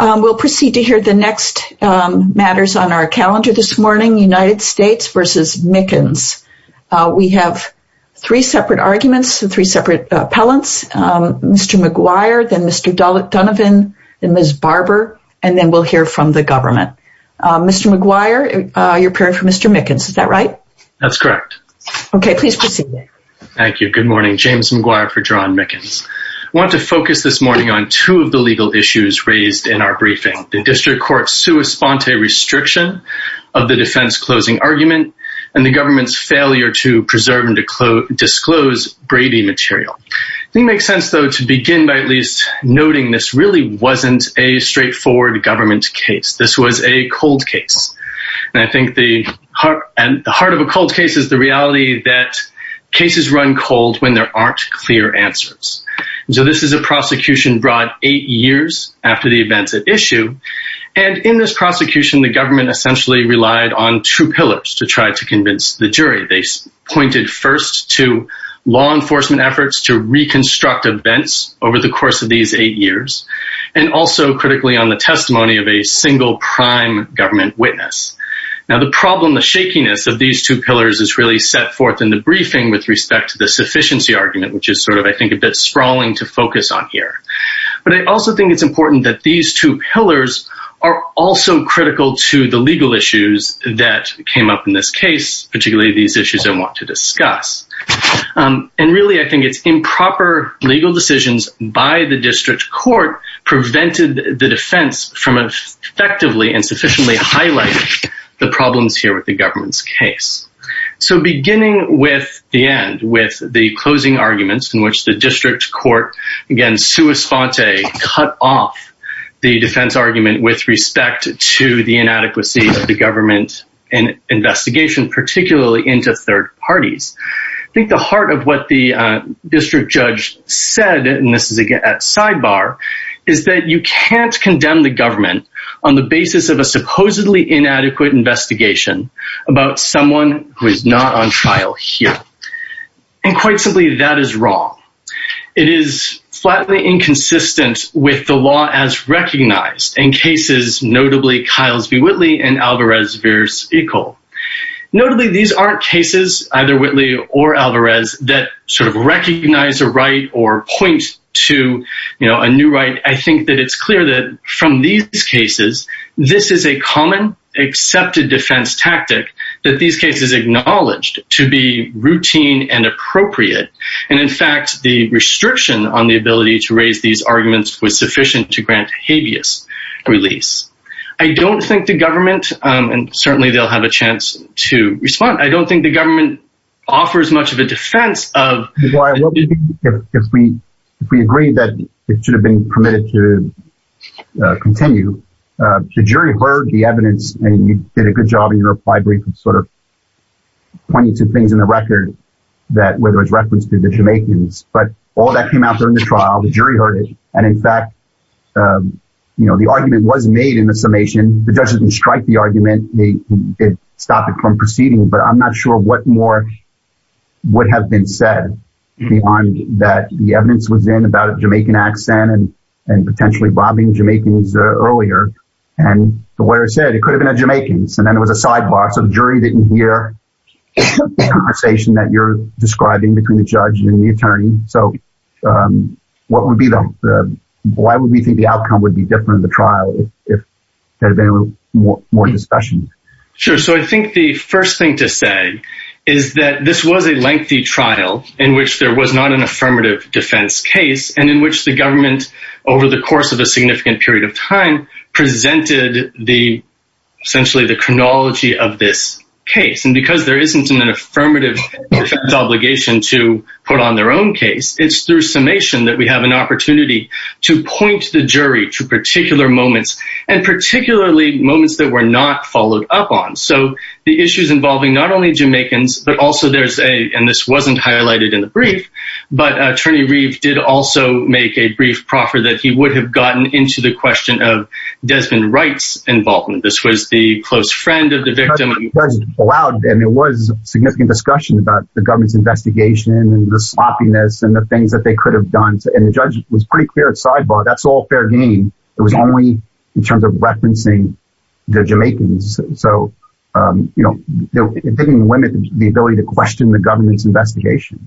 We'll proceed to hear the next matters on our calendar this morning, United States v. Mickens. We have three separate arguments, three separate appellants, Mr. McGuire, then Mr. Donovan, then Ms. Barber, and then we'll hear from the government. Mr. McGuire, you're appearing for Mr. Mickens, is that right? That's correct. Okay, please proceed. Thank you. Good morning. James McGuire for John Mickens. I want to focus this morning on two of the legal issues raised in our briefing. The district court's sua sponte restriction of the defense closing argument and the government's failure to preserve and disclose Brady material. I think it makes sense, though, to begin by at least noting this really wasn't a straightforward government case. This was a cold case. And I think the heart of a cold case is the reality that cases run cold when there aren't clear answers. So this is a prosecution brought eight years after the events at issue. And in this prosecution, the government essentially relied on two pillars to try to convince the jury. They pointed first to law enforcement efforts to reconstruct events over the course of these eight years. And also critically on the testimony of a single prime government witness. Now, the problem, the shakiness of these two pillars is really set forth in the briefing with respect to the sufficiency argument, which is sort of, I think, a bit sprawling to focus on here. But I also think it's important that these two pillars are also critical to the legal issues that came up in this case, particularly these issues I want to discuss. And really, I think it's improper legal decisions by the district court prevented the defense from effectively and sufficiently highlighting the problems here with the government's case. So beginning with the end, with the closing arguments in which the district court, again, sua sponte, cut off the defense argument with respect to the inadequacy of the government investigation, particularly into third parties. I think the heart of what the district judge said, and this is again at sidebar, is that you can't condemn the government on the basis of a supposedly inadequate investigation about someone who is not on trial here. And quite simply, that is wrong. It is flatly inconsistent with the law as recognized in cases, notably Kyle's v. Whitley and Alvarez v. Ecole. Notably, these aren't cases, either Whitley or Alvarez, that sort of recognize a right or point to a new right. I think that it's clear that from these cases, this is a common accepted defense tactic that these cases acknowledged to be routine and appropriate. And in fact, the restriction on the ability to raise these arguments was sufficient to grant habeas release. I don't think the government, and certainly they'll have a chance to respond, I don't think the government offers much of a defense of… Well, if we agree that it should have been permitted to continue, the jury heard the evidence, and you did a good job in your reply brief of sort of pointing to things in the record that were referenced to the Jamaicans. But all that came out during the trial. The jury heard it. And in fact, the argument was made in the summation. The judge didn't strike the argument. It stopped it from proceeding. But I'm not sure what more would have been said beyond that the evidence was in about a Jamaican accent and potentially robbing Jamaicans earlier. And the lawyer said it could have been a Jamaican. And then there was a sidebar, so the jury didn't hear the conversation that you're describing between the judge and the attorney. So what would be the… Why would we think the outcome would be different in the trial if there had been more discussion? Sure. So I think the first thing to say is that this was a lengthy trial in which there was not an affirmative defense case. And in which the government, over the course of a significant period of time, presented essentially the chronology of this case. And because there isn't an affirmative defense obligation to put on their own case, it's through summation that we have an opportunity to point the jury to particular moments. And particularly moments that were not followed up on. So the issues involving not only Jamaicans, but also there's a… And this wasn't highlighted in the brief. But Attorney Reeve did also make a brief proffer that he would have gotten into the question of Desmond Wright's involvement. This was the close friend of the victim. The judge allowed… And there was significant discussion about the government's investigation and the sloppiness and the things that they could have done. And the judge was pretty clear at sidebar, that's all fair game. It was only in terms of referencing the Jamaicans. So, you know, it didn't limit the ability to question the government's investigation.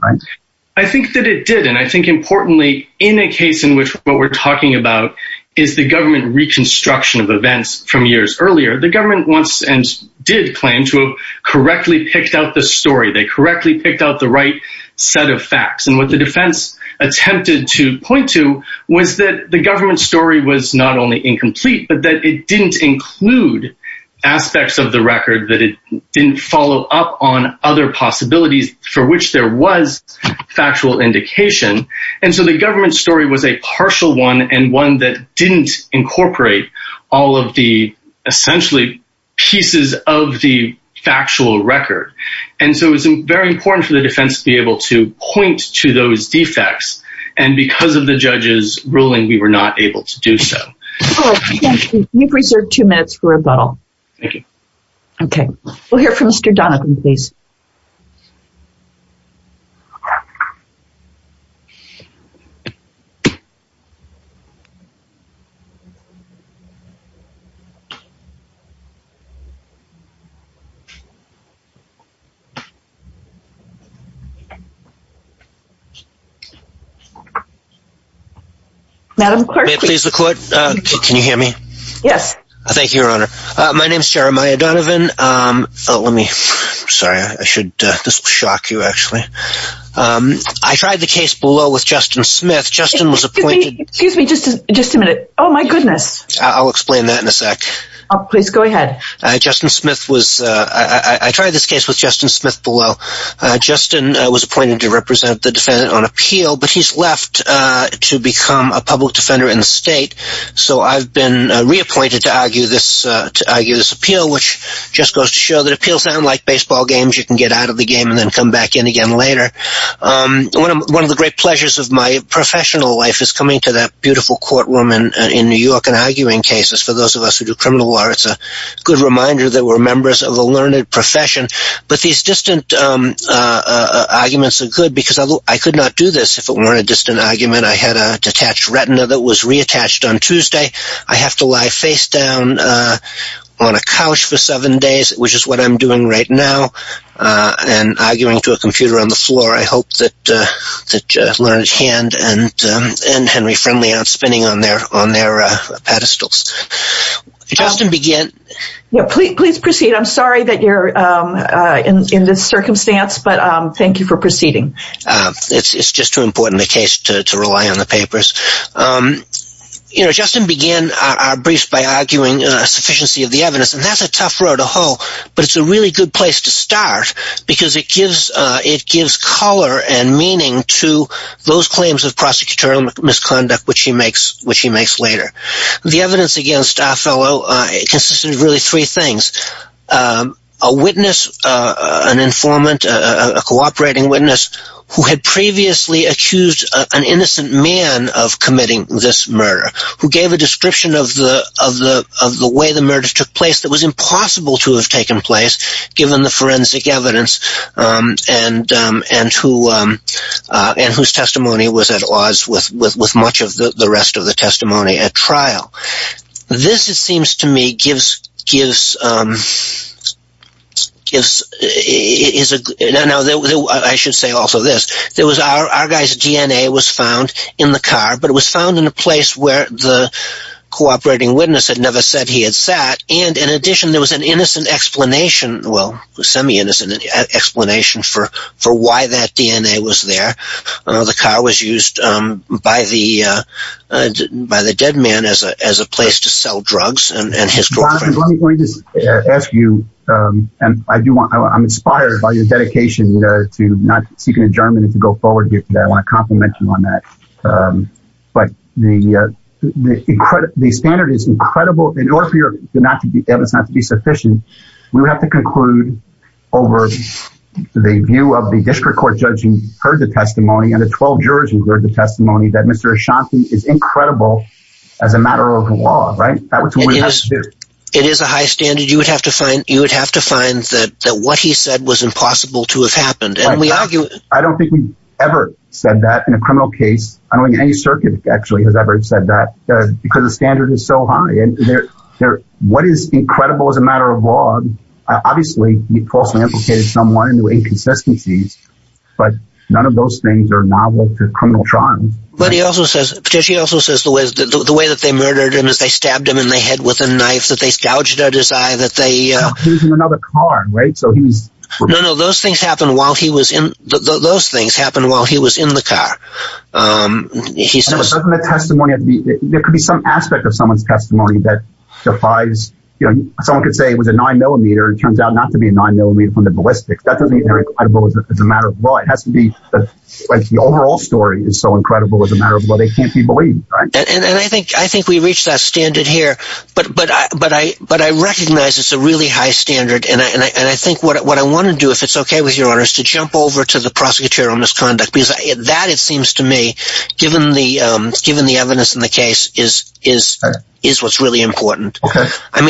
I think that it did. And I think importantly in a case in which what we're talking about is the government reconstruction of events from years earlier. The government wants and did claim to have correctly picked out the story. They correctly picked out the right set of facts. And what the defense attempted to point to was that the government story was not only incomplete, but that it didn't include aspects of the record. That it didn't follow up on other possibilities for which there was factual indication. And so the government story was a partial one and one that didn't incorporate all of the essentially pieces of the factual record. And so it was very important for the defense to be able to point to those defects. And because of the judge's ruling, we were not able to do so. Oh, thank you. You've reserved two minutes for rebuttal. Thank you. Okay. We'll hear from Mr. Donovan, please. Madam Clerk. May it please the Court? Can you hear me? Thank you, Your Honor. My name is Jeremiah Donovan. Let me, sorry, I should, this will shock you, actually. I tried the case below with Justin Smith. Justin was appointed. Excuse me, just a minute. Oh, my goodness. I'll explain that in a sec. Please go ahead. Justin Smith was, I tried this case with Justin Smith. Justin was appointed to represent the defendant on appeal, but he's left to become a public defender in the state. So I've been reappointed to argue this appeal, which just goes to show that appeals sound like baseball games. You can get out of the game and then come back in again later. One of the great pleasures of my professional life is coming to that beautiful courtroom in New York and arguing cases. For those of us who do criminal law, it's a good reminder that we're members of a learned profession. But these distant arguments are good because I could not do this if it weren't a distant argument. I had a detached retina that was reattached on Tuesday. I have to lie face down on a couch for seven days, which is what I'm doing right now, and arguing to a computer on the floor. I hope that Learned Hand and Henry Friendly aren't spinning on their pedestals. Justin, begin. Please proceed. I'm sorry that you're in this circumstance, but thank you for proceeding. It's just too important a case to rely on the papers. Justin began our briefs by arguing a sufficiency of the evidence. That's a tough road to hoe, but it's a really good place to start because it gives color and meaning to those claims of prosecutorial misconduct, which he makes later. The evidence against our fellow consisted of really three things. A witness, an informant, a cooperating witness, who had previously accused an innocent man of committing this murder, who gave a description of the way the murder took place that was impossible to have taken place, given the forensic evidence, and whose testimony was at odds with much of the rest of the testimony at trial. This, it seems to me, gives... I should say also this. Our guy's DNA was found in the car, but it was found in a place where the cooperating witness had never said he had sat. In addition, there was an innocent explanation, well, semi-innocent explanation, for why that DNA was there. The car was used by the dead man as a place to sell drugs and his girlfriend. Let me just ask you, and I'm inspired by your dedication to not seek an adjournment and to go forward here today. I want to compliment you on that. But the standard is incredible. In order for your evidence not to be sufficient, we would have to conclude, over the view of the district court judge who heard the testimony and the 12 jurors who heard the testimony, that Mr. Ashanti is incredible as a matter of law, right? That's what we have to do. It is a high standard. You would have to find that what he said was impossible to have happened. I don't think we've ever said that in a criminal case. I don't think any circuit actually has ever said that, because the standard is so high. What is incredible as a matter of law, obviously, he falsely implicated someone into inconsistencies, but none of those things are novel to criminal trials. But he also says, Petitie also says, the way that they murdered him is they stabbed him in the head with a knife, that they scourged at his eye, that they... No, he was in another car, right? No, no, those things happened while he was in the car. There could be some aspect of someone's testimony that defies... Someone could say it was a 9mm, and it turns out not to be a 9mm from the ballistics. That doesn't mean they're incredible as a matter of law. It has to be that the overall story is so incredible as a matter of law, they can't be believed, right? And I think we've reached that standard here, but I recognize it's a really high standard, and I think what I want to do, if it's okay with your honor, is to jump over to the prosecutorial misconduct, because that, it seems to me, given the evidence in the case, is what's really important. And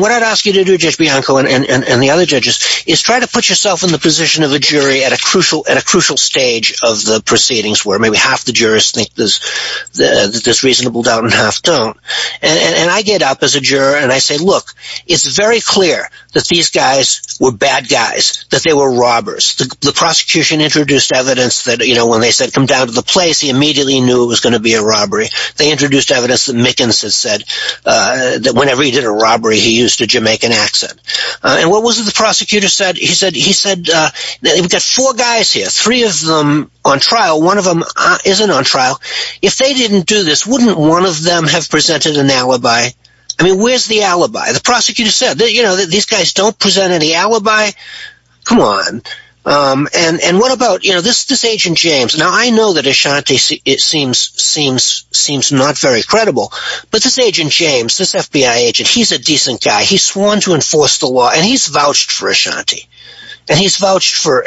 what I'd ask you to do, Judge Bianco, and the other judges, is try to put yourself in the position of a jury at a crucial stage of the proceedings, where maybe half the jurors think there's reasonable doubt and half don't. And I get up as a juror and I say, look, it's very clear that these guys were bad guys, that they were robbers. The prosecution introduced evidence that, you know, when they said, come down to the place, he immediately knew it was going to be a robbery. They introduced evidence that Mickens had said that whenever he did a robbery, he used a Jamaican accent. And what was it the prosecutor said? He said, we've got four guys here, three of them on trial, one of them isn't on trial. If they didn't do this, wouldn't one of them have presented an alibi? I mean, where's the alibi? The prosecutor said, you know, these guys don't present any alibi. Come on. And what about, you know, this Agent James? Now, I know that Ashanti seems not very credible, but this Agent James, this FBI agent, he's a decent guy. He's sworn to enforce the law, and he's vouched for Ashanti. And he's vouched for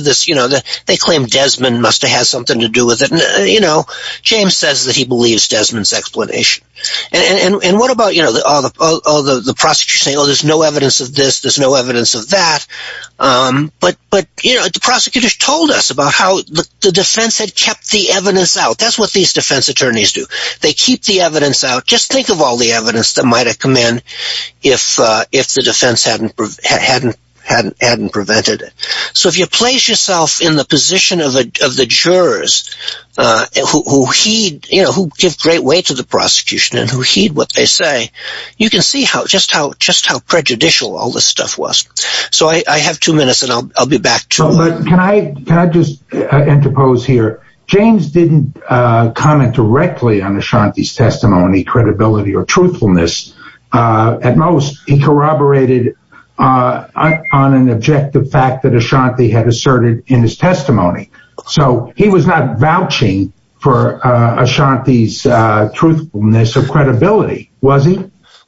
this, you know, they claim Desmond must have had something to do with it. You know, James says that he believes Desmond's explanation. And what about, you know, all the prosecutors saying, oh, there's no evidence of this, there's no evidence of that. But, you know, the prosecutors told us about how the defense had kept the evidence out. That's what these defense attorneys do. They keep the evidence out. Just think of all the evidence that might have come in if the defense hadn't prevented it. So if you place yourself in the position of the jurors, who heed, you know, who give great weight to the prosecution, and who heed what they say, you can see just how prejudicial all this stuff was. So I have two minutes, and I'll be back to you. But can I just interpose here? James didn't comment directly on Ashanti's testimony, credibility, or truthfulness. At most, he corroborated on an objective fact that Ashanti had asserted in his testimony. So he was not vouching for Ashanti's truthfulness or credibility, was he?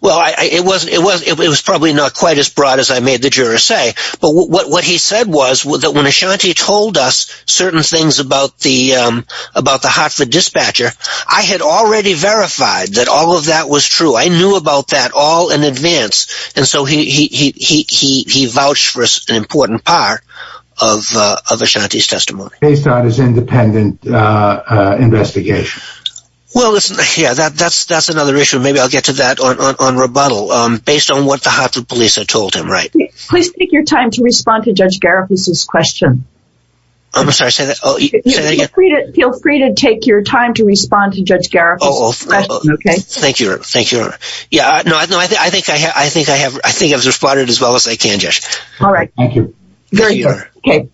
Well, it was probably not quite as broad as I made the jurors say. But what he said was that when Ashanti told us certain things about the Hartford dispatcher, I had already verified that all of that was true. I knew about that all in advance. And so he vouched for an important part of Ashanti's testimony. Based on his independent investigation? Well, yeah, that's another issue. Maybe I'll get to that on rebuttal. Based on what the Hartford police had told him, right. Please take your time to respond to Judge Garifuss's question. I'm sorry, say that again? Feel free to take your time to respond to Judge Garifuss's question, okay? Thank you, Your Honor. I think I've responded as well as I can, Judge. All right. Thank you. Very good.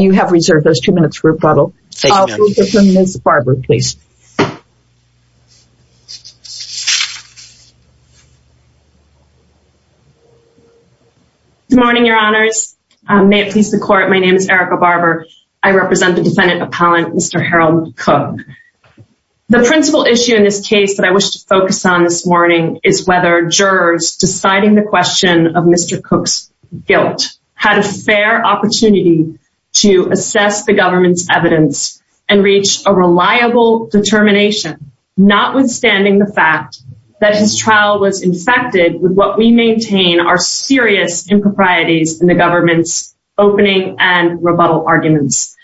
You have reserved those two minutes for rebuttal. Thank you, ma'am. We'll go to Ms. Barber, please. Good morning, Your Honors. May it please the Court, my name is Erica Barber. I represent the defendant appellant, Mr. Harold Cook. The principal issue in this case that I wish to focus on this morning is whether jurors deciding the question of Mr. Cook's guilt had a fair opportunity to assess the government's evidence and reach a reliable determination, notwithstanding the fact that his trial was infected with what we maintain are serious improprieties in the government's opening and rebuttal arguments.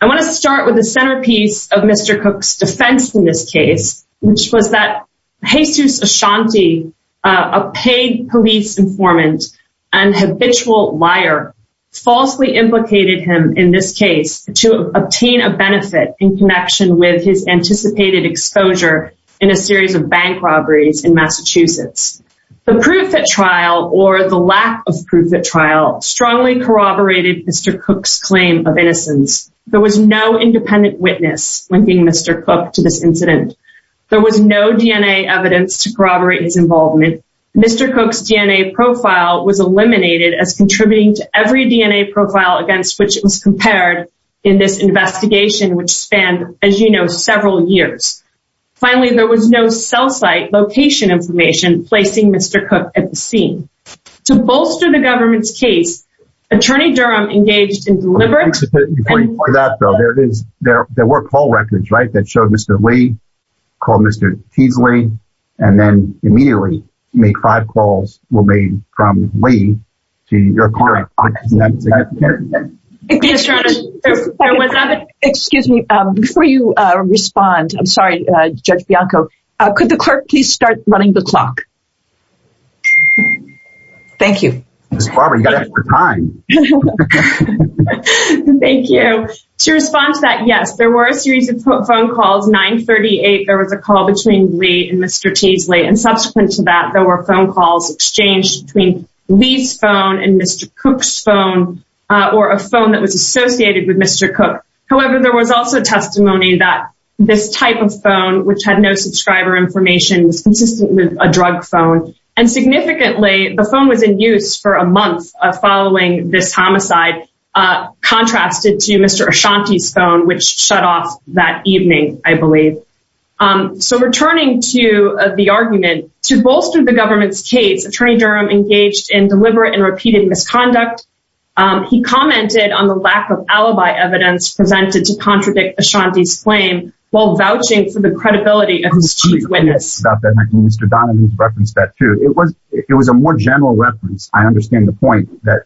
I want to start with the centerpiece of Mr. Cook's defense in this case, which was that Jesus Ashanti, a paid police informant and habitual liar, falsely implicated him in this case to obtain a benefit in connection with his anticipated exposure in a series of bank robberies in Massachusetts. The proof at trial, or the lack of proof at trial, strongly corroborated Mr. Cook's claim of innocence. There was no independent witness linking Mr. Cook to this incident. There was no DNA evidence to corroborate his involvement. Mr. Cook's DNA profile was eliminated as contributing to every DNA profile against which it was compared in this investigation, which spanned, as you know, several years. Finally, there was no cell site location information placing Mr. Cook at the scene. To bolster the government's case, Attorney Durham engaged in deliberate... Before you point out, though, there were call records, right, that showed Mr. Lee, called Mr. Teasley, and then immediately made five calls from Lee to your client. Excuse me, before you respond, I'm sorry, Judge Bianco, could the clerk please start running the clock? Thank you. Ms. Barber, you've got extra time. Thank you. To respond to that, yes, there were a series of phone calls. 938, there was a call between Lee and Mr. Teasley, and subsequent to that, there were phone calls exchanged between Lee's phone and Mr. Cook's phone, or a phone that was associated with Mr. Cook. However, there was also testimony that this type of phone, which had no subscriber information, was consistent with a drug phone. And significantly, the phone was in use for a month following this homicide, contrasted to Mr. Ashanti's phone, which shut off that evening, I believe. So returning to the argument, to bolster the government's case, Attorney Durham engaged in deliberate and repeated misconduct. He commented on the lack of alibi evidence presented to contradict Ashanti's claim, while vouching for the credibility of his chief witness. Mr. Donovan referenced that too. It was a more general reference. I understand the point that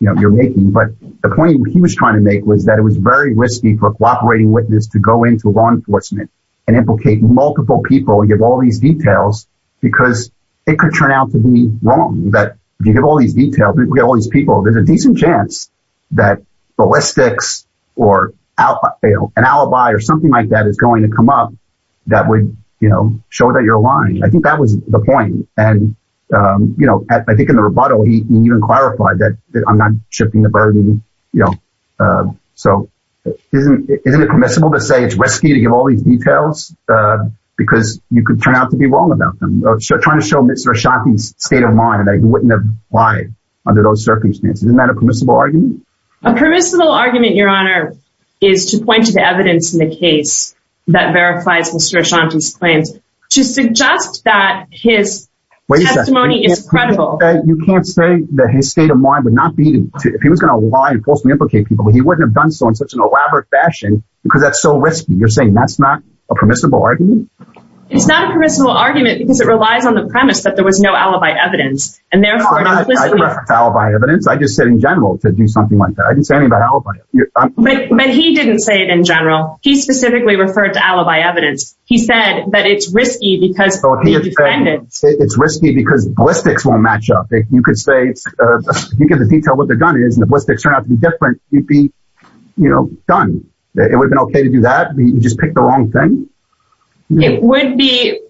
you're making, but the point he was trying to make was that it was very risky for a cooperating witness to go into law enforcement and implicate multiple people, give all these details, because it could turn out to be wrong. If you give all these details, there's a decent chance that ballistics or an alibi or something like that is going to come up that would show that you're lying. I think that was the point. And I think in the rebuttal, he even clarified that I'm not shifting the burden. So isn't it permissible to say it's risky to give all these details? Because you could turn out to be wrong about them. Trying to show Mr. Ashanti's state of mind that he wouldn't have lied under those circumstances. Isn't that a permissible argument? A permissible argument, Your Honor, is to point to the evidence in the case that verifies Mr. Ashanti's claims to suggest that his testimony is credible. You can't say that his state of mind would not be, if he was going to lie and falsely implicate people, he wouldn't have done so in such an elaborate fashion because that's so risky. You're saying that's not a permissible argument? It's not a permissible argument because it relies on the premise that there was no alibi evidence. I didn't refer to alibi evidence. I just said in general to do something like that. I didn't say anything about alibi. But he didn't say it in general. He specifically referred to alibi evidence. He said that it's risky because it's risky because ballistics won't match up. You could say, if you give the detail what the gun is and the ballistics turn out to be different, you'd be, you know, done. It would have been okay to do that? You just picked the wrong thing? It would be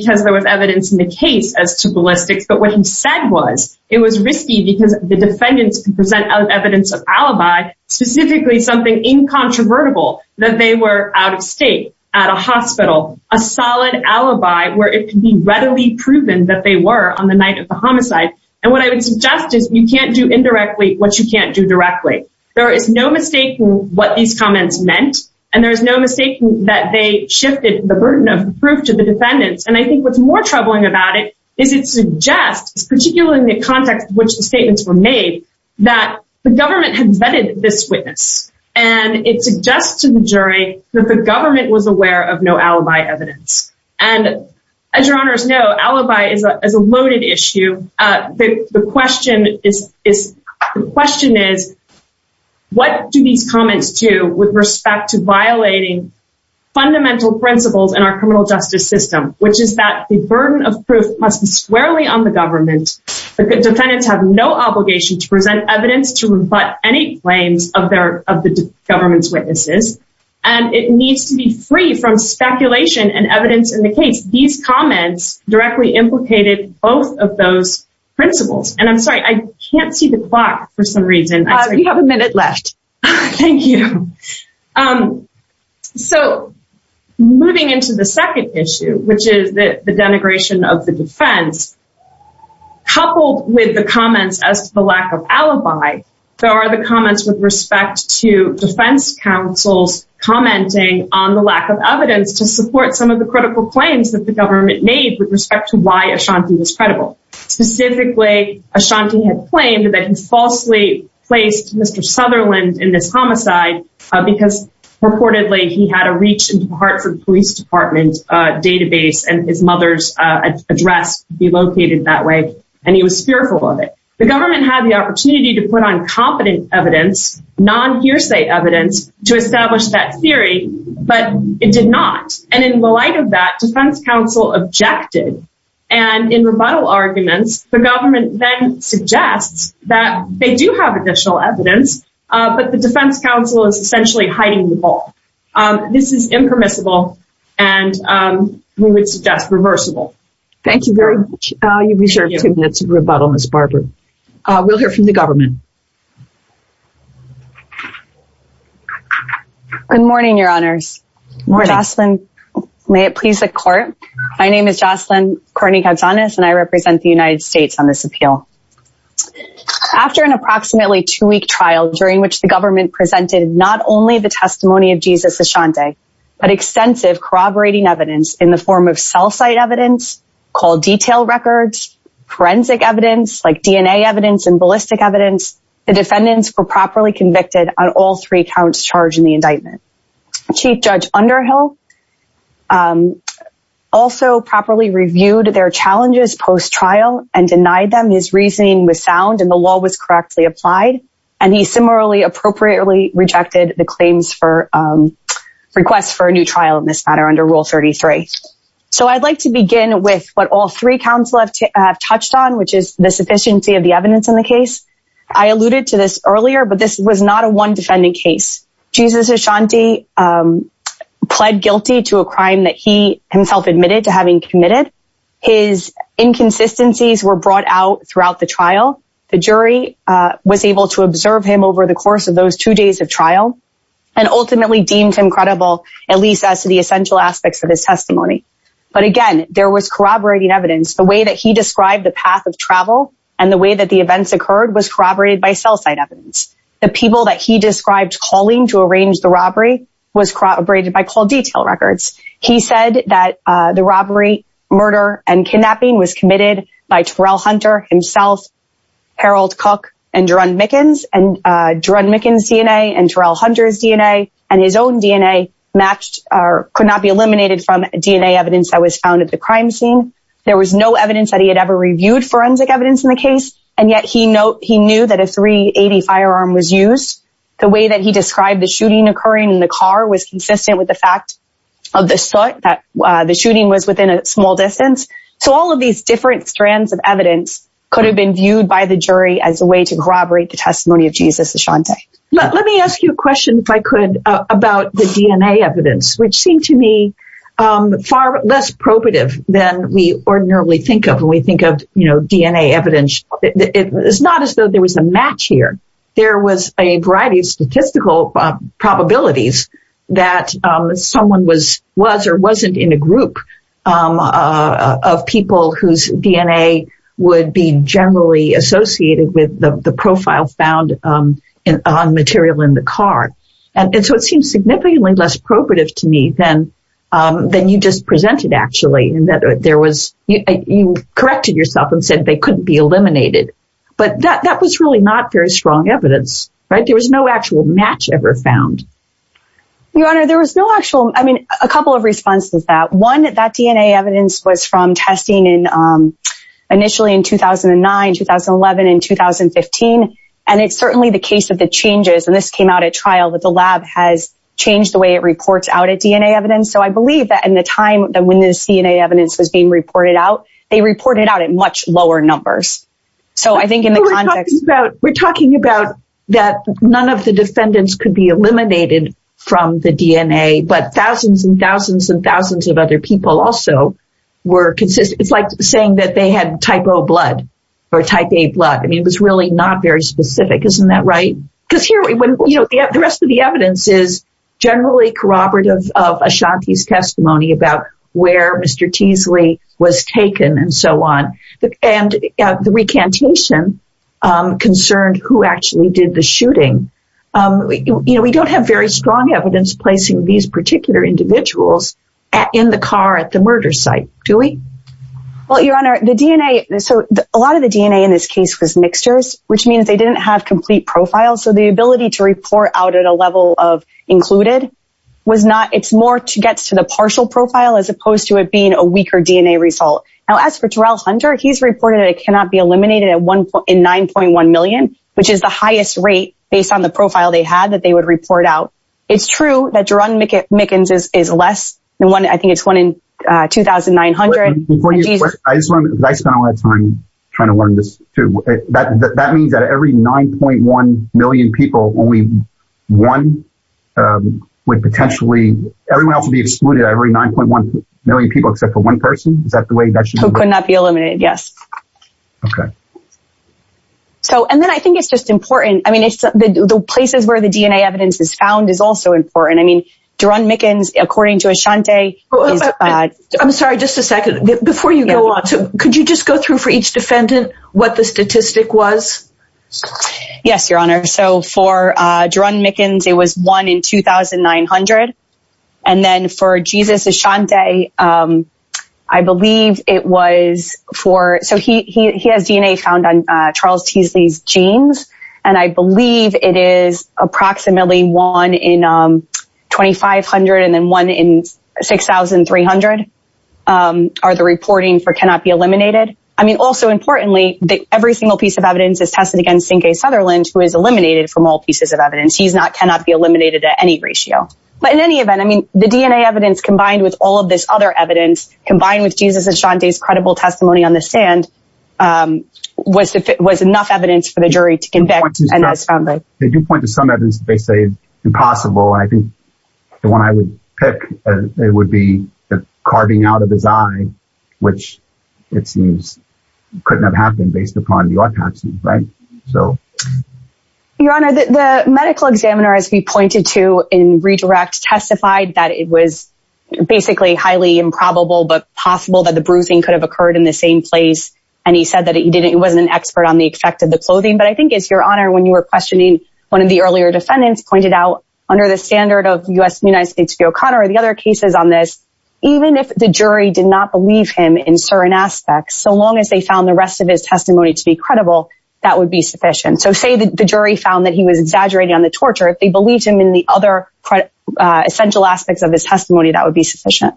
because there was evidence in the case as to ballistics, but what he said was it was risky because the defendants could present evidence of alibi, specifically something incontrovertible, that they were out of state, at a hospital, a solid alibi where it could be readily proven that they were on the night of the homicide. And what I would suggest is you can't do indirectly what you can't do directly. There is no mistaking what these comments meant. And there is no mistaking that they shifted the burden of proof to the defendants. And I think what's more troubling about it is it suggests, particularly in the context in which the statements were made, that the government had vetted this witness. And it suggests to the jury that the government was aware of no alibi evidence. And as your honors know, alibi is a loaded issue. The question is what do these comments do with respect to violating fundamental principles in our criminal justice system, which is that the burden of proof must be squarely on the government. The defendants have no obligation to present evidence to rebut any claims of the government's witnesses. And it needs to be free from speculation and evidence in the case. These comments directly implicated both of those principles. And I'm sorry, I can't see the clock for some reason. You have a minute left. Thank you. So, moving into the second issue, which is the denigration of the defense, coupled with the comments as to the lack of alibi, there are the comments with respect to defense counsels on the lack of evidence to support some of the critical claims that the government made with respect to why Ashanti was credible. Specifically, Ashanti had claimed that he falsely placed Mr. Sutherland in this homicide because purportedly he had a reach into the police department database and his mother's address would be located that way. And he was fearful of it. The government had the opportunity to put on competent evidence, non-hearsay evidence, to establish that theory, but it did not. And in the light of that, defense counsel objected. And in rebuttal arguments, the government then suggests that they do have additional evidence, but the defense counsel is essentially hiding the ball. This is impermissible and we would suggest reversible. Thank you very much. You reserve two minutes of rebuttal, Ms. Barber. We'll hear from the government. Good morning, Your Honors. Good morning. Jocelyn, may it please the court. My name is Jocelyn Courtney-Gonzalez and I represent the United States on this appeal. After an approximately two-week trial during which the government presented not only the testimony of Jesus Ashanti, but extensive corroborating evidence in the form of cell site evidence, call detail records, forensic evidence like DNA evidence and ballistic evidence, the defendants were properly convicted on all three counts charged in the indictment. Chief Judge Underhill also properly reviewed their challenges post-trial and denied them. His reasoning was sound and the law was correctly applied. And he similarly appropriately rejected the claims for requests for a new trial in this matter under Rule 33. So I'd like to begin with what all three counsel have touched on, which is the I alluded to this earlier, but this was not a one defendant case. Jesus Ashanti pled guilty to a crime that he himself admitted to having committed. His inconsistencies were brought out throughout the trial. The jury was able to observe him over the course of those two days of trial and ultimately deemed him credible, at least as to the essential aspects of his testimony. But again, there was corroborating evidence. The way that he described the path of travel and the way that the events occurred was corroborated by cell site evidence. The people that he described calling to arrange the robbery was corroborated by call detail records. He said that the robbery, murder and kidnapping was committed by Terrell Hunter himself, Harold Cook and Duran Mickens. And Duran Mickens DNA and Terrell Hunter's DNA and his own DNA matched or could not be eliminated from DNA evidence that was found at the crime scene. There was no reviewed forensic evidence in the case, and yet he knew that a 380 firearm was used. The way that he described the shooting occurring in the car was consistent with the fact of the soot, that the shooting was within a small distance. So all of these different strands of evidence could have been viewed by the jury as a way to corroborate the testimony of Jesus Ashanti. Let me ask you a question, if I could, about the DNA evidence, which seemed to me far less probative than we ordinarily think of when we think of DNA evidence. It's not as though there was a match here. There was a variety of statistical probabilities that someone was or wasn't in a group of people whose DNA would be generally associated with the profile found on material in the car. And so it seems significantly less probative to me than you just presented actually. You corrected yourself and said they couldn't be eliminated. But that was really not very strong evidence. There was no actual match ever found. Your Honor, there was no actual match. I mean, a couple of responses to that. One, that DNA evidence was from testing initially in 2009, 2011, and 2015. And it's certainly the case of the changes, and this came out at trial, that the lab has so I believe that in the time when this DNA evidence was being reported out, they reported out at much lower numbers. We're talking about that none of the defendants could be eliminated from the DNA, but thousands and thousands and thousands of other people also were consistent. It's like saying that they had type O blood or type A blood. I mean, it was really not very specific. Isn't that right? Because here, the rest of the evidence is generally corroborative of Ashanti's testimony about where Mr. Teasley was taken and so on. And the recantation concerned who actually did the shooting. We don't have very strong evidence placing these particular individuals in the car at the murder site, do we? Well, Your Honor, a lot of the DNA in this case was mixtures, which means they didn't have complete profiles. So the ability to report out at a level of included was not, it's more to get to the partial profile as opposed to it being a weaker DNA result. Now, as for Terrell Hunter, he's reported it cannot be eliminated in 9.1 million, which is the highest rate based on the profile they had that they would report out. It's true that Jaron Mickens is less than one, I think it's one in 2,900. I spent a lot of time trying to learn this too. That means that every 9.1 million people, only one would potentially, everyone else would be excluded out of every 9.1 million people except for one person? Is that the way that should work? Who could not be eliminated, yes. So, and then I think it's just important, I mean, the places where the DNA evidence is found is also important. I mean, Jaron Mickens, according to Ashanti, is... I'm sorry, just a second. Before you go on, could you just go through for each defendant what the statistic was? Yes, Your Honor. So for Jaron Mickens, it was one in 2,900. And then for Jesus Ashanti, I believe it was for... So he has DNA found on Charles Teasley's genes and I believe it is approximately one in 2,500 and then one in 6,300 are the reporting for cannot be eliminated. I mean, also importantly, every single piece of evidence is tested against Sinke Sutherland, who is eliminated from all pieces of evidence. He's not, cannot be eliminated at any ratio. But in any event, I mean, the DNA evidence combined with all of this other evidence, combined with Jesus Ashanti's credible testimony on the stand was enough evidence for the jury to convict and this family. Did you point to some evidence that they say is impossible? I think the one I would pick, it would be the carving out of his eye, which it seems couldn't have happened based upon the autopsy, right? So... Your Honor, the medical examiner, as we pointed to in redirect, testified that it was basically highly improbable, but possible that the bruising could have occurred in the same place. And he said that he didn't, he wasn't an expert on the effect of the clothing. But I think it's Your Honor, when you were questioning, one of the earlier defendants pointed out under the standard of U.S., United States v. O'Connor, the other cases on this, even if the jury did not believe him in certain aspects, so long as they found the rest of his testimony to be credible, that would be sufficient. So say the jury found that he was exaggerating on the torture, if they believed him in the other essential aspects of his testimony, that would be sufficient.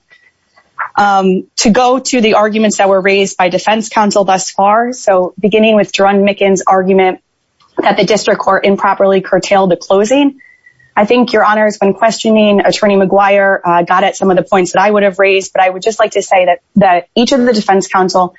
To go to the arguments that were raised by defense counsel thus far, so beginning with Jerron Micken's argument that the district court improperly curtailed the closing, I think Your Honor, when questioning Attorney McGuire got at some of the points that I would have raised, but I would just like to say that each of the defense counsel,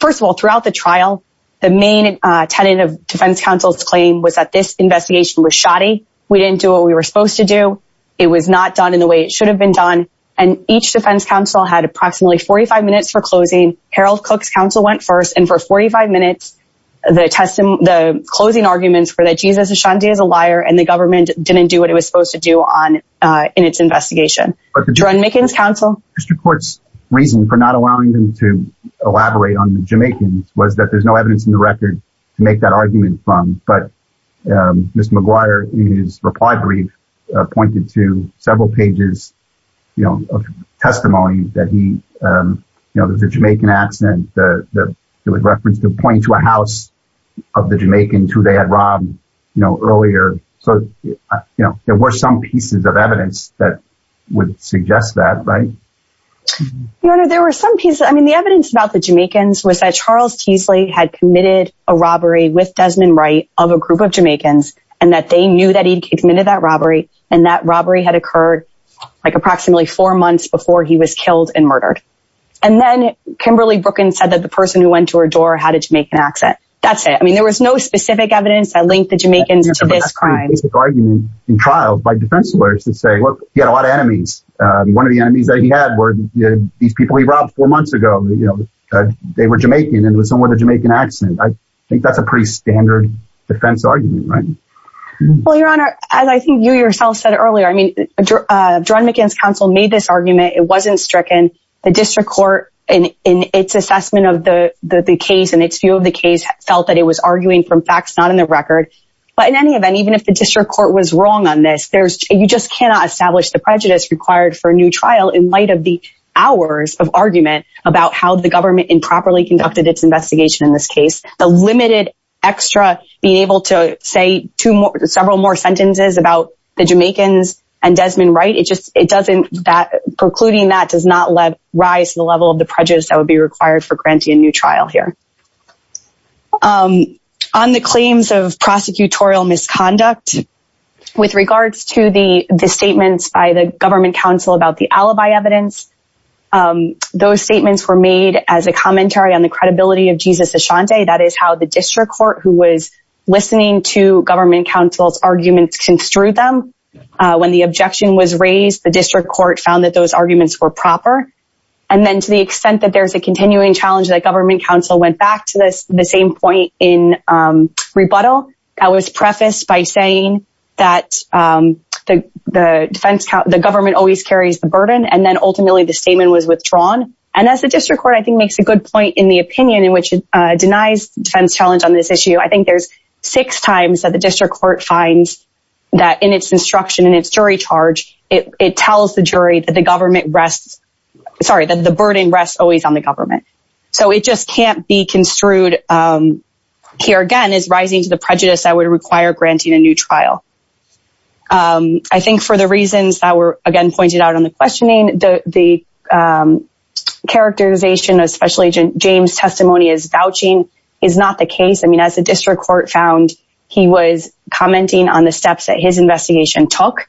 first of all, throughout the trial, the main tenant of defense counsel's claim was that this investigation was shoddy, we didn't do what we were supposed to do, it was not done in the way it should have been done, and each defense counsel had approximately 45 minutes for closing, Harold Cook's counsel went first, and for 45 minutes, the closing arguments were that Jesus Ashanti is a liar, and the government didn't do what it was supposed to do in its investigation. Jerron Micken's counsel? The district court's reason for not allowing them to elaborate on the Jamaicans was that there's no evidence in the record to make that argument from, but Mr. McGuire, in his reply brief, pointed to several pages of testimony that he, you know, there's a Jamaican accent that was referenced to point to a house of the Jamaicans who they had robbed earlier, so, you know, there were some pieces of evidence that would suggest that, right? Your Honor, there were some pieces, I mean, the evidence about the Jamaicans was that Charles Teasley had committed a robbery with Desmond Wright of a group of Jamaicans, and that they knew that he'd committed that robbery, and that robbery had occurred like approximately four months before he was killed and murdered. And then Kimberly Brooklyn said that the person who went to her door had a Jamaican accent. That's it. I mean, there was no specific evidence that linked the Jamaicans to this crime. But that's a pretty basic argument in trial by defense lawyers to say, look, he had a lot of enemies. One of the enemies that he had were these people he robbed four months ago. They were Jamaican, and it was somewhere in the Jamaican accent. I think that's a pretty standard defense argument, right? Well, Your Honor, as I think you yourself said earlier, I mean, Jerron Micken's counsel made this argument. It wasn't stricken. The district court, in its assessment of the case and its view of the case, felt that it was arguing from facts not in the record. But in any event, even if the district court was wrong on this, you just cannot establish the prejudice required for a new trial in light of the hours of argument about how the government improperly conducted its investigation in this case. The limited extra being able to say several more sentences about the Jamaicans and Desmond Wright, precluding that does not rise to the level of the prejudice that would be required for granting a new trial here. On the claims of prosecutorial misconduct, with regards to the statements by the government counsel about the alibi evidence, those statements were made as a commentary on the credibility of Jesus Ashanti. That is how the district court, who was listening to government counsel's arguments, construed them. When the objection was raised, the district court found that those arguments were proper. And then to the extent that there's a continuing challenge that government counsel went back to the same point in rebuttal, that was prefaced by saying that the government always carries the burden, and then ultimately the statement was withdrawn. And as the district court, I think, makes a good point in the opinion in which it denies defense challenge on this issue. I think there's six times that the district court finds that in its instruction, in its jury charge, it tells the jury that the burden rests always on the government. So it just can't be construed here again as rising to the prejudice that would require granting a new trial. I think for the reasons that were again pointed out on the questioning, the characterization of Special Agent James' testimony as vouching is not the case. As the district court found, he was commenting on the steps that his defense took.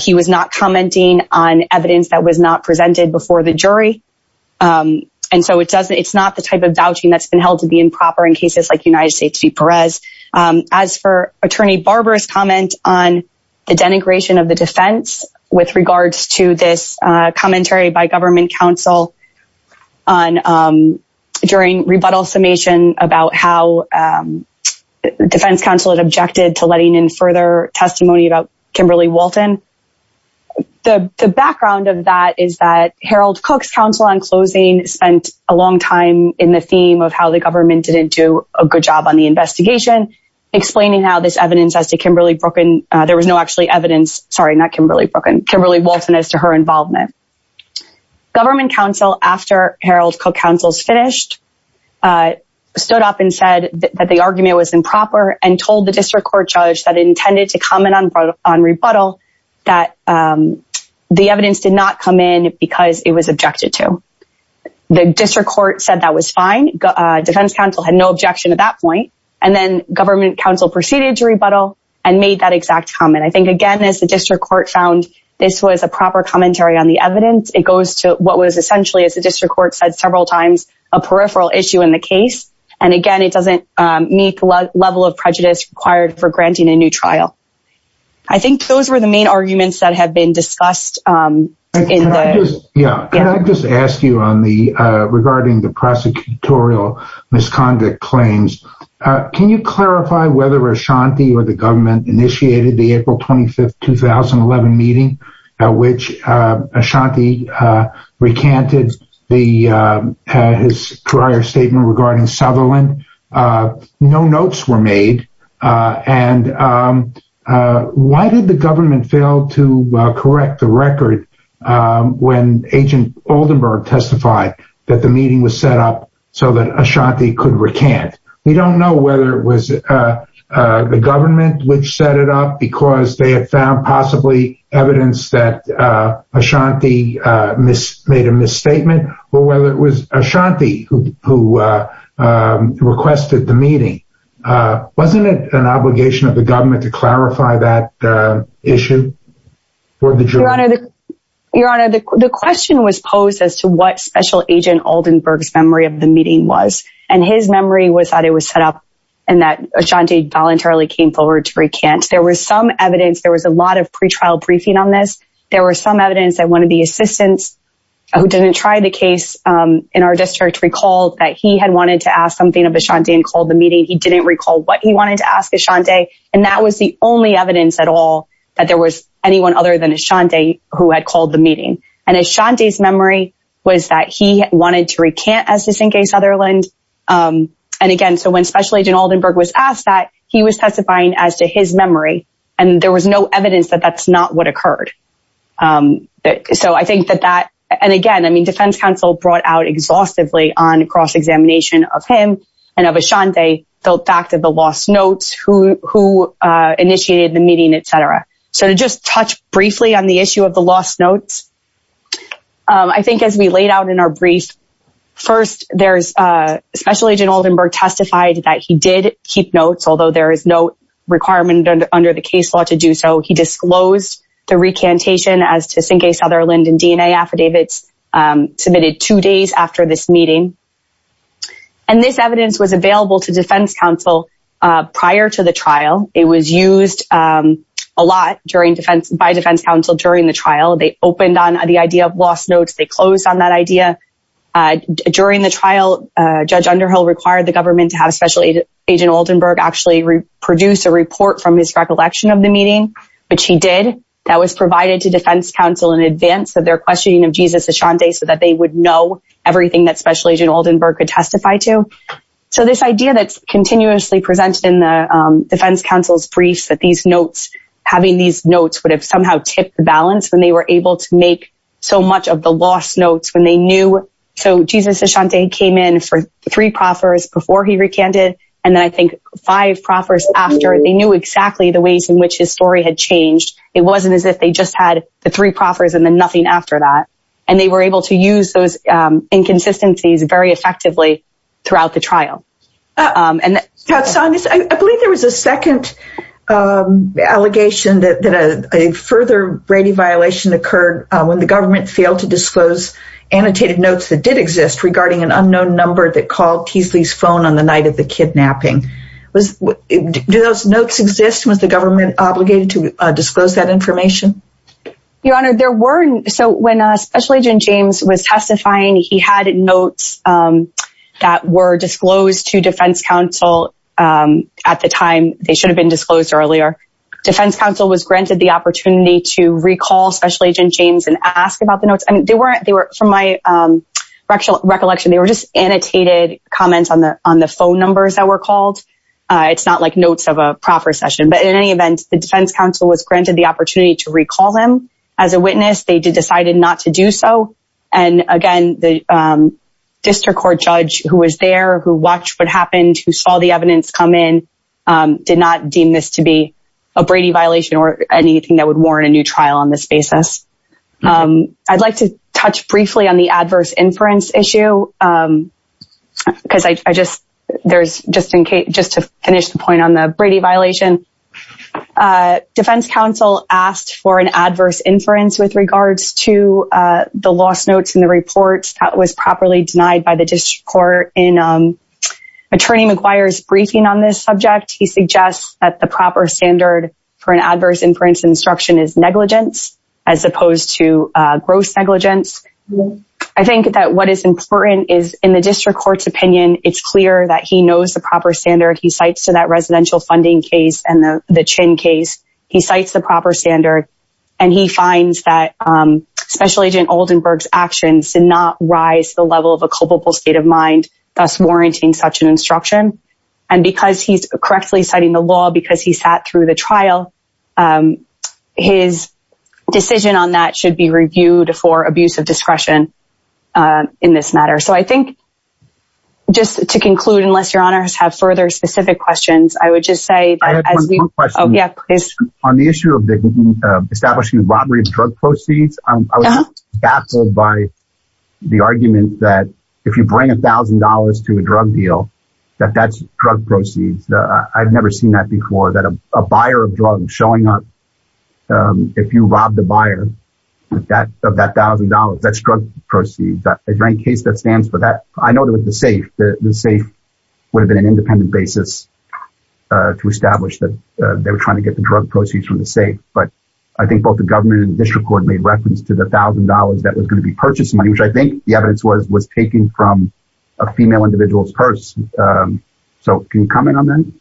He was not commenting on evidence that was not presented before the jury. And so it's not the type of vouching that's been held to be improper in cases like United States v. Perez. As for Attorney Barber's comment on the denigration of the defense with regards to this commentary by government counsel during rebuttal summation about how defense counsel had objected to letting in further testimony about Kimberly Wolton, the background of that is that Harold Cook's counsel on closing spent a long time in the theme of how the government didn't do a good job on the investigation, explaining how this evidence as to Kimberly Wolton as to her involvement. Government counsel, after Harold Cook counsel's finished, stood up and said that the argument was improper and told the district court judge that it intended to comment on rebuttal that the evidence did not come in because it was objected to. The district court said that was fine. Defense counsel had no objection at that point. And then government counsel proceeded to rebuttal and made that exact comment. I think, again, as the district court found this was a proper commentary on the evidence, it goes to what was essentially, as the district court said several times, a peripheral issue in the case. And again, it doesn't meet the level of prejudice required for granting a new trial. I think those were the main arguments that have been discussed in the... Can I just ask you regarding the prosecutorial misconduct claims, can you clarify whether Ashanti or the government initiated the April 25, 2011 meeting at which Ashanti recanted his prior statement regarding Sutherland? No notes were made. Why did the government fail to correct the record when Agent Oldenburg testified that the meeting was set up so that Ashanti could recant? We don't know whether it was the government which set it up because they had found possibly evidence that Ashanti made a misstatement or whether it was Ashanti who requested the meeting. Wasn't it an obligation of the government to clarify that issue? Your Honor, the question was posed as to what Special Agent Oldenburg's memory of the meeting was. And his memory was that it was set up and that Ashanti voluntarily came forward to recant. There was some evidence, there was a lot of pre-trial briefing on this. There was some evidence that one of the assistants who didn't try the case in our district recalled that he had wanted to ask something of Ashanti and called the meeting. He didn't recall what he wanted to ask Ashanti. And that was the only evidence at all that there was anyone other than Ashanti who had called the meeting. And Ashanti's memory was that he wanted to recant as to sink a Sutherland. And again, so when Special Agent Oldenburg was asked that, he was testifying as to his memory. And there was no confirmation of what occurred. So I think that that, and again, I mean, Defense Counsel brought out exhaustively on cross-examination of him and of Ashanti, the fact of the lost notes, who initiated the meeting, etc. So to just touch briefly on the issue of the lost notes, I think as we laid out in our brief, first there's, Special Agent Oldenburg testified that he did keep notes, although there is no requirement under the case law to do so. He disclosed the recantation as to sink a Sutherland and DNA affidavits submitted two days after this meeting. And this evidence was available to Defense Counsel prior to the trial. It was used a lot by Defense Counsel during the trial. They opened on the idea of lost notes. They closed on that idea. During the trial, Judge Underhill required the government to have Special Agent Oldenburg actually produce a report from his recollection of the meeting, which he did. That was provided to Defense Counsel in advance of their questioning of Jesus Ashanti so that they would know everything that Special Agent Oldenburg could testify to. So this idea that's continuously presented in the Defense Counsel's briefs, that these notes, having these notes would have somehow tipped the balance when they were able to make so much of the lost notes when they knew. So Jesus Ashanti came in for three proffers before he recanted. And then I think five proffers after. They knew exactly the ways in which his story had changed. It wasn't as if they just had the three proffers and then nothing after that. And they were able to use those inconsistencies very effectively throughout the trial. I believe there was a second allegation that a further Brady violation occurred when the government failed to disclose annotated notes that did exist regarding an incident on the night of the kidnapping. Do those notes exist? Was the government obligated to disclose that information? Your Honor, there were. So when Special Agent James was testifying, he had notes that were disclosed to Defense Counsel at the time. They should have been disclosed earlier. Defense Counsel was granted the opportunity to recall Special Agent James and ask about the notes. From my recollection, they were just annotated comments on the phone numbers that were called. It's not like notes of a proffer session. But in any event, the Defense Counsel was granted the opportunity to recall him as a witness. They decided not to do so. And again, the district court judge who was there, who watched what happened, who saw the evidence come in, did not deem this to be a Brady violation or anything that would warrant a new trial on this basis. I'd like to touch briefly on the because I just there's just in case just to finish the point on the Brady violation. Defense Counsel asked for an adverse inference with regards to the lost notes in the reports that was properly denied by the district court. In Attorney McGuire's briefing on this subject, he suggests that the proper standard for an adverse inference instruction is negligence as opposed to gross negligence. I think that what is important is in the district court's opinion, it's clear that he knows the proper standard. He cites to that residential funding case and the Chin case. He cites the proper standard and he finds that Special Agent Oldenburg's actions did not rise to the level of a culpable state of mind, thus warranting such an instruction. And because he's correctly citing the law, because he sat through the trial, his decision on that should be reviewed for abuse of discretion in this matter. So I think just to conclude, unless your honors have further specific questions, I would just say... On the issue of establishing robbery of drug proceeds, I was baffled by the argument that if you bring $1,000 to a drug deal, that that's drug proceeds. I've never seen that before, that a buyer of drugs showing up if you rob the buyer of that $1,000, that's drug proceeds. Is there any case that stands for that? I know there was the SAFE. The SAFE would have been an independent basis to establish that they were trying to get the drug proceeds from the SAFE, but I think both the government and the district court made reference to the $1,000 that was going to be purchased money, which I think the evidence was taking from a female individual's purse. So can you comment on that?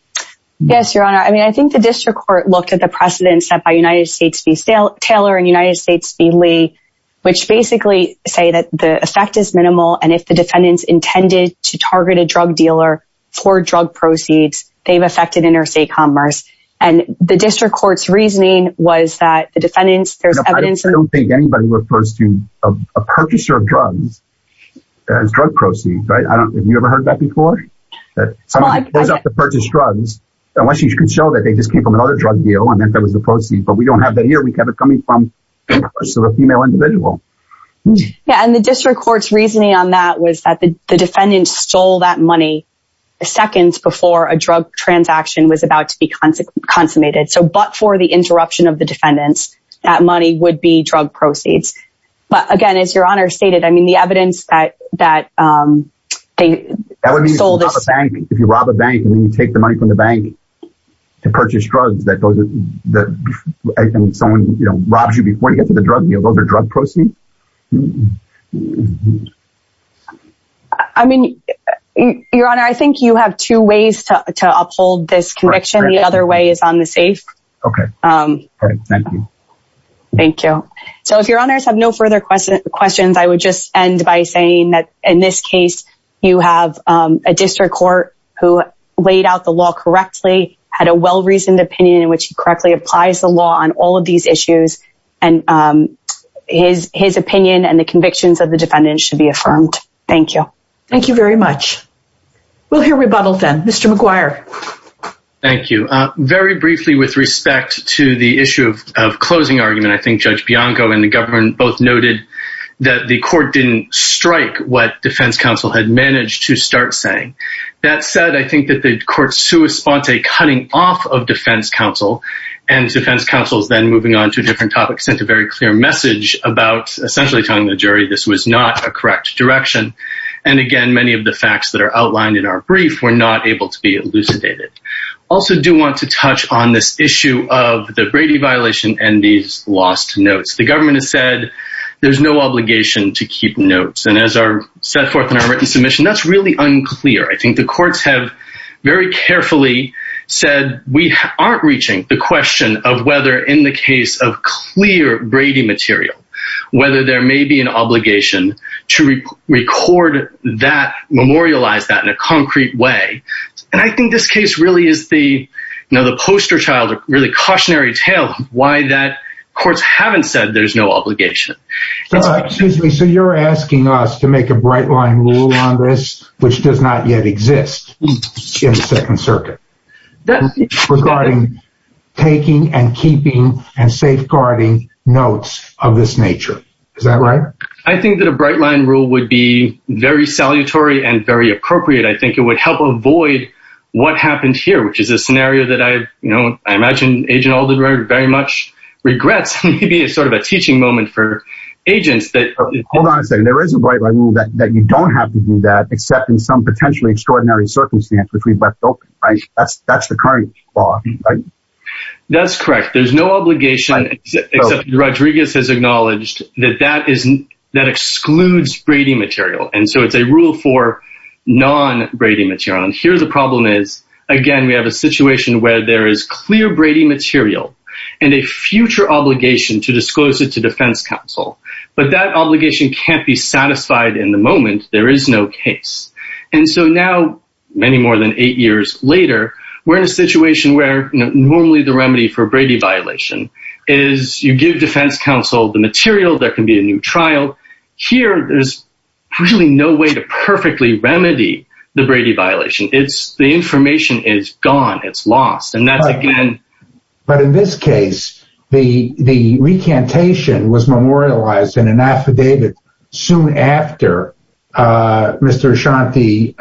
Yes, your honor. I mean, I think the district court looked at the precedent set by United States v. Taylor and United States v. Lee, which basically say that the effect is minimal and if the defendants intended to target a drug dealer for drug proceeds, they've affected interstate commerce. And the district court's reasoning was that the defendants... I don't think anybody refers to a purchaser of drugs as drug proceeds, right? Have you ever heard that before? Someone shows up to purchase came from another drug deal and then there was a proceed, but we don't have that here. We kept it coming from a female individual. Yeah, and the district court's reasoning on that was that the defendants stole that money seconds before a drug transaction was about to be consummated. So, but for the interruption of the defendants, that money would be drug proceeds. But again, as your honor stated, I mean, the evidence that they stole this... That would mean if you rob a bank and then you take the money from the bank to purchase drugs that someone robs you before you get to the drug deal, those are drug proceeds? I mean, your honor, I think you have two ways to uphold this conviction. The other way is on the safe. Okay, thank you. Thank you. So if your honors have no further questions, I would just end by saying that in this case, you have a district court who laid out the law correctly, had a well-reasoned opinion in which he correctly applies the law on all of these issues, and his opinion and the convictions of the defendants should be affirmed. Thank you. Thank you very much. We'll hear rebuttal then. Mr. McGuire. Thank you. Very briefly with respect to the issue of closing argument, I think Judge Bianco and the government both noted that the court didn't strike what defense counsel had managed to start saying. That said, I think that the court cut off of defense counsel, and defense counsel then moving on to a different topic sent a very clear message about essentially telling the jury this was not a correct direction. And again, many of the facts that are outlined in our brief were not able to be elucidated. Also, I do want to touch on this issue of the Brady violation and these lost notes. The government has said there's no obligation to keep notes. And as are set forth in our written submission, that's really unclear. I think the courts have very carefully said we aren't reaching the question of whether in the case of clear Brady material, whether there may be an obligation to record that, memorialize that in a concrete way. And I think this case really is the poster child, really cautionary tale why that courts haven't said there's no obligation. Excuse me, so you're asking us to make a bright line rule on this, which does not yet exist in the Second Circuit regarding taking and keeping and safeguarding notes of this nature. Is that right? I think that a bright line rule would be very salutary and very appropriate. I think it would help avoid what happened here, which is a scenario that I imagine Agent Alden very much regrets. Maybe it's sort of a teaching moment for agents. Hold on a second. There is a bright line rule that you don't have to do that except in some potentially extraordinary circumstance, which we've left open. That's the current law. That's correct. There's no obligation, except Rodriguez has acknowledged that that excludes Brady material. And so it's a rule for non-Brady material. And here the problem is, again, we have a situation where there is clear Brady material and a future obligation to disclose it to defense counsel. But that obligation can't be satisfied in the moment. There is no case. And so now, many more than eight years later, we're in a situation where normally the remedy for a Brady violation is you give defense counsel the material. There can be a new trial. Here, there's really no way to perfectly remedy the Brady violation. The information is gone. It's lost. But in this case, the recantation was memorialized in an affidavit soon after Mr. Ashanti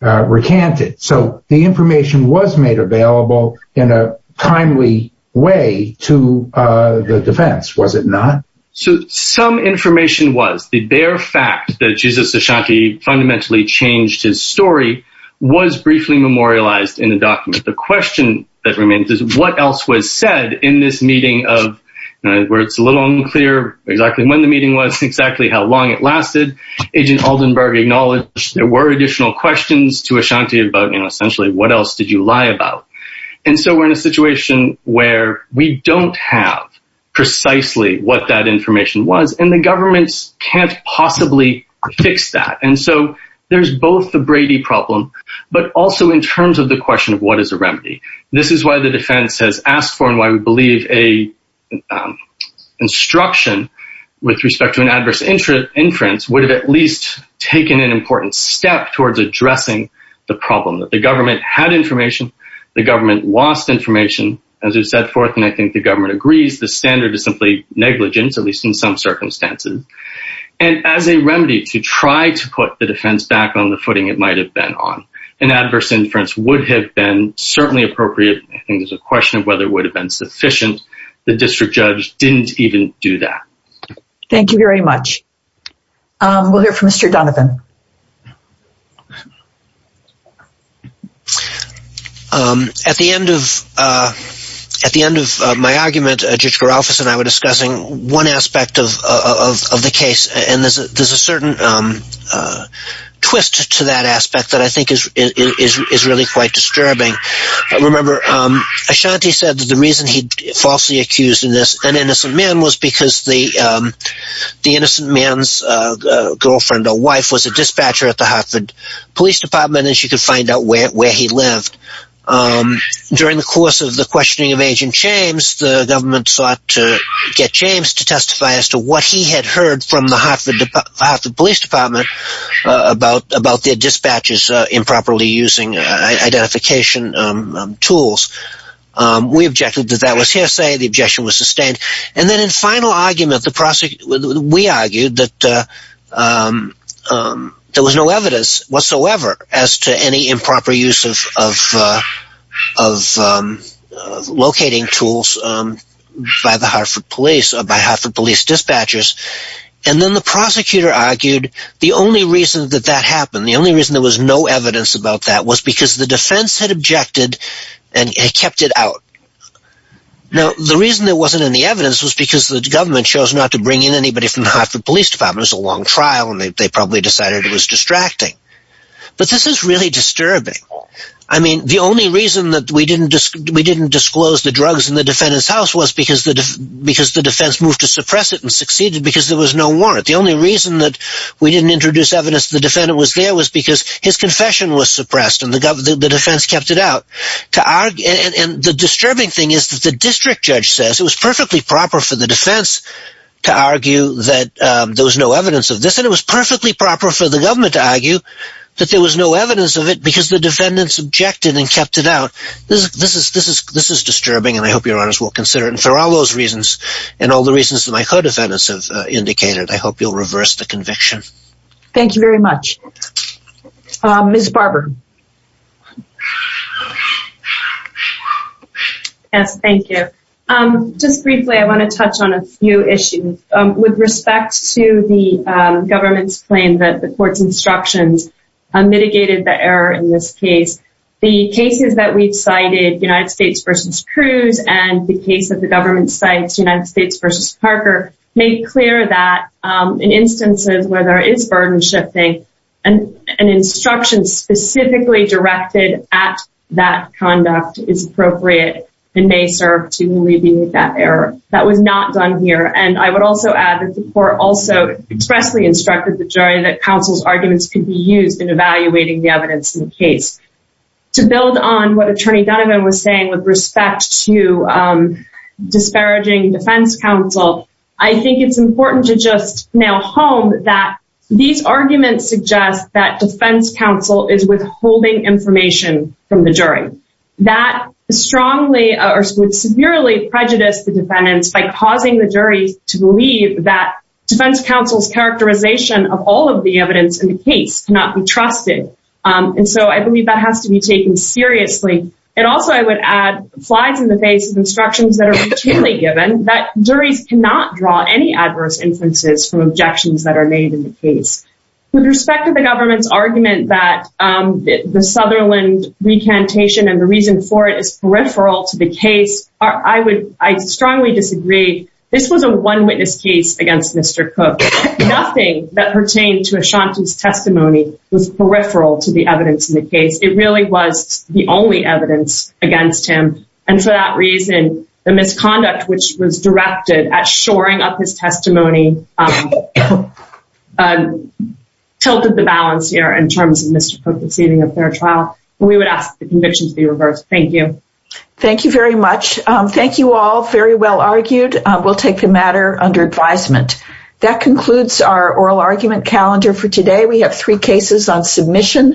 recanted. So the information was made available in a timely way to the defense, was it not? So some information was. The bare fact that Jesus Ashanti fundamentally changed his story was briefly memorialized in the document. The question that remains is what else was said in this meeting where it's a little unclear exactly when the meeting was, exactly how long it lasted. Agent Aldenberg acknowledged there were additional questions to Ashanti about, essentially, what else did you lie about? And so we're in a situation where we don't have precisely what that information was. And the governments can't possibly fix that. And so there's both the Brady problem, but also in terms of the question of what is a remedy. This is why the defense has asked for and why we believe an instruction with respect to an adverse inference would have at least taken an important step towards addressing the problem. The government had information. The government lost information. As we've said forth, and I think the government agrees, the standard is simply negligence, at least in some circumstances. And as a remedy to try to put the defense back on the footing it might have been on. An adverse inference would have been certainly appropriate. I think there's a question of whether it would have been sufficient. The district judge didn't even do that. Thank you very much. We'll hear from Mr. Donovan. At the end of my argument, Judge Garalfas and I were discussing one aspect of the case and there's a certain twist to that aspect that I think is really quite disturbing. Remember Ashanti said that the reason he falsely accused an innocent man was because the innocent man's girlfriend or wife was a dispatcher at the Hartford Police Department and she could find out where he lived. During the course of the questioning of Agent James, the government sought to get James to testify as to what he had heard from the Hartford Police Department about their dispatchers improperly using identification tools. We objected that that was hearsay. The objection was sustained. And then in final argument, we argued that there was no evidence whatsoever as to any improper use of locating tools by Hartford Police dispatchers. And then the prosecutor argued the only reason that that happened, the only reason there was no evidence about that was because the defense had objected and kept it out. Now the reason there wasn't any evidence was because the government chose not to bring in anybody from the Hartford Police Department. It was a long trial and they probably decided it was distracting. But this is really disturbing. I mean the only reason that we didn't disclose the drugs in the defendant's house was because the defense moved to suppress it and succeeded because there was no warrant. The only reason that we didn't introduce evidence that the defendant was there was because his confession was suppressed and the defense kept it out. And the disturbing thing is that the district judge says it was perfectly proper for the defense to argue that there was no evidence of this and it was perfectly proper for the government to argue that there was no evidence of it because the defendants objected and kept it out. This is disturbing and I hope your honors will consider it. And for all those reasons and all the reasons that my co-defendants have indicated, I hope you'll reverse the conviction. Thank you very much. Ms. Barber. Yes, thank you. Just briefly, I want to touch on a few issues. With respect to the government's claim that the court's instructions mitigated the error in this case, the cases that we've cited, United States v. Cruz and the case that the government cites, United States v. Parker, make clear that in instances where there is burden shifting, an instruction specifically directed at that conduct is appropriate and may serve to alleviate that error. That was not done here. And I would also add that the court also expressly instructed the jury that counsel's arguments could be used in evaluating the evidence in the case. To build on what Attorney Donovan was saying with respect to disparaging defense counsel, I think it's important to just nail home that these arguments suggest that defense counsel is withholding information from the jury. That strongly or severely prejudiced the defendants by causing the jury to believe that defense counsel's characterization of all of the evidence in the case cannot be taken seriously. And also I would add flies in the face of instructions that are routinely given that juries cannot draw any adverse inferences from objections that are made in the case. With respect to the government's argument that the Sutherland recantation and the reason for it is peripheral to the case, I strongly disagree. This was a one witness case against Mr. Cook. Nothing that pertained to Ashanti's testimony was the only evidence against him. And for that reason the misconduct which was directed at shoring up his testimony tilted the balance here in terms of Mr. Cook receiving a fair trial. We would ask the conviction to be reversed. Thank you. Thank you very much. Thank you all very well argued. We'll take the matter under advisement. That concludes our oral argument calendar for today. We have three cases on page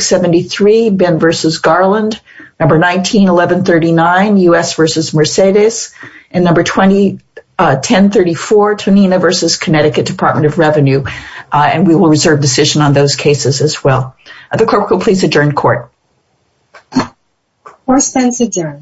73, Ben v. Garland. Number 19, 1139 U.S. v. Mercedes. And number 1034, Tonina v. Connecticut Department of Revenue. And we will reserve decision on those cases as well. The clerk will please adjourn court. Court is adjourned.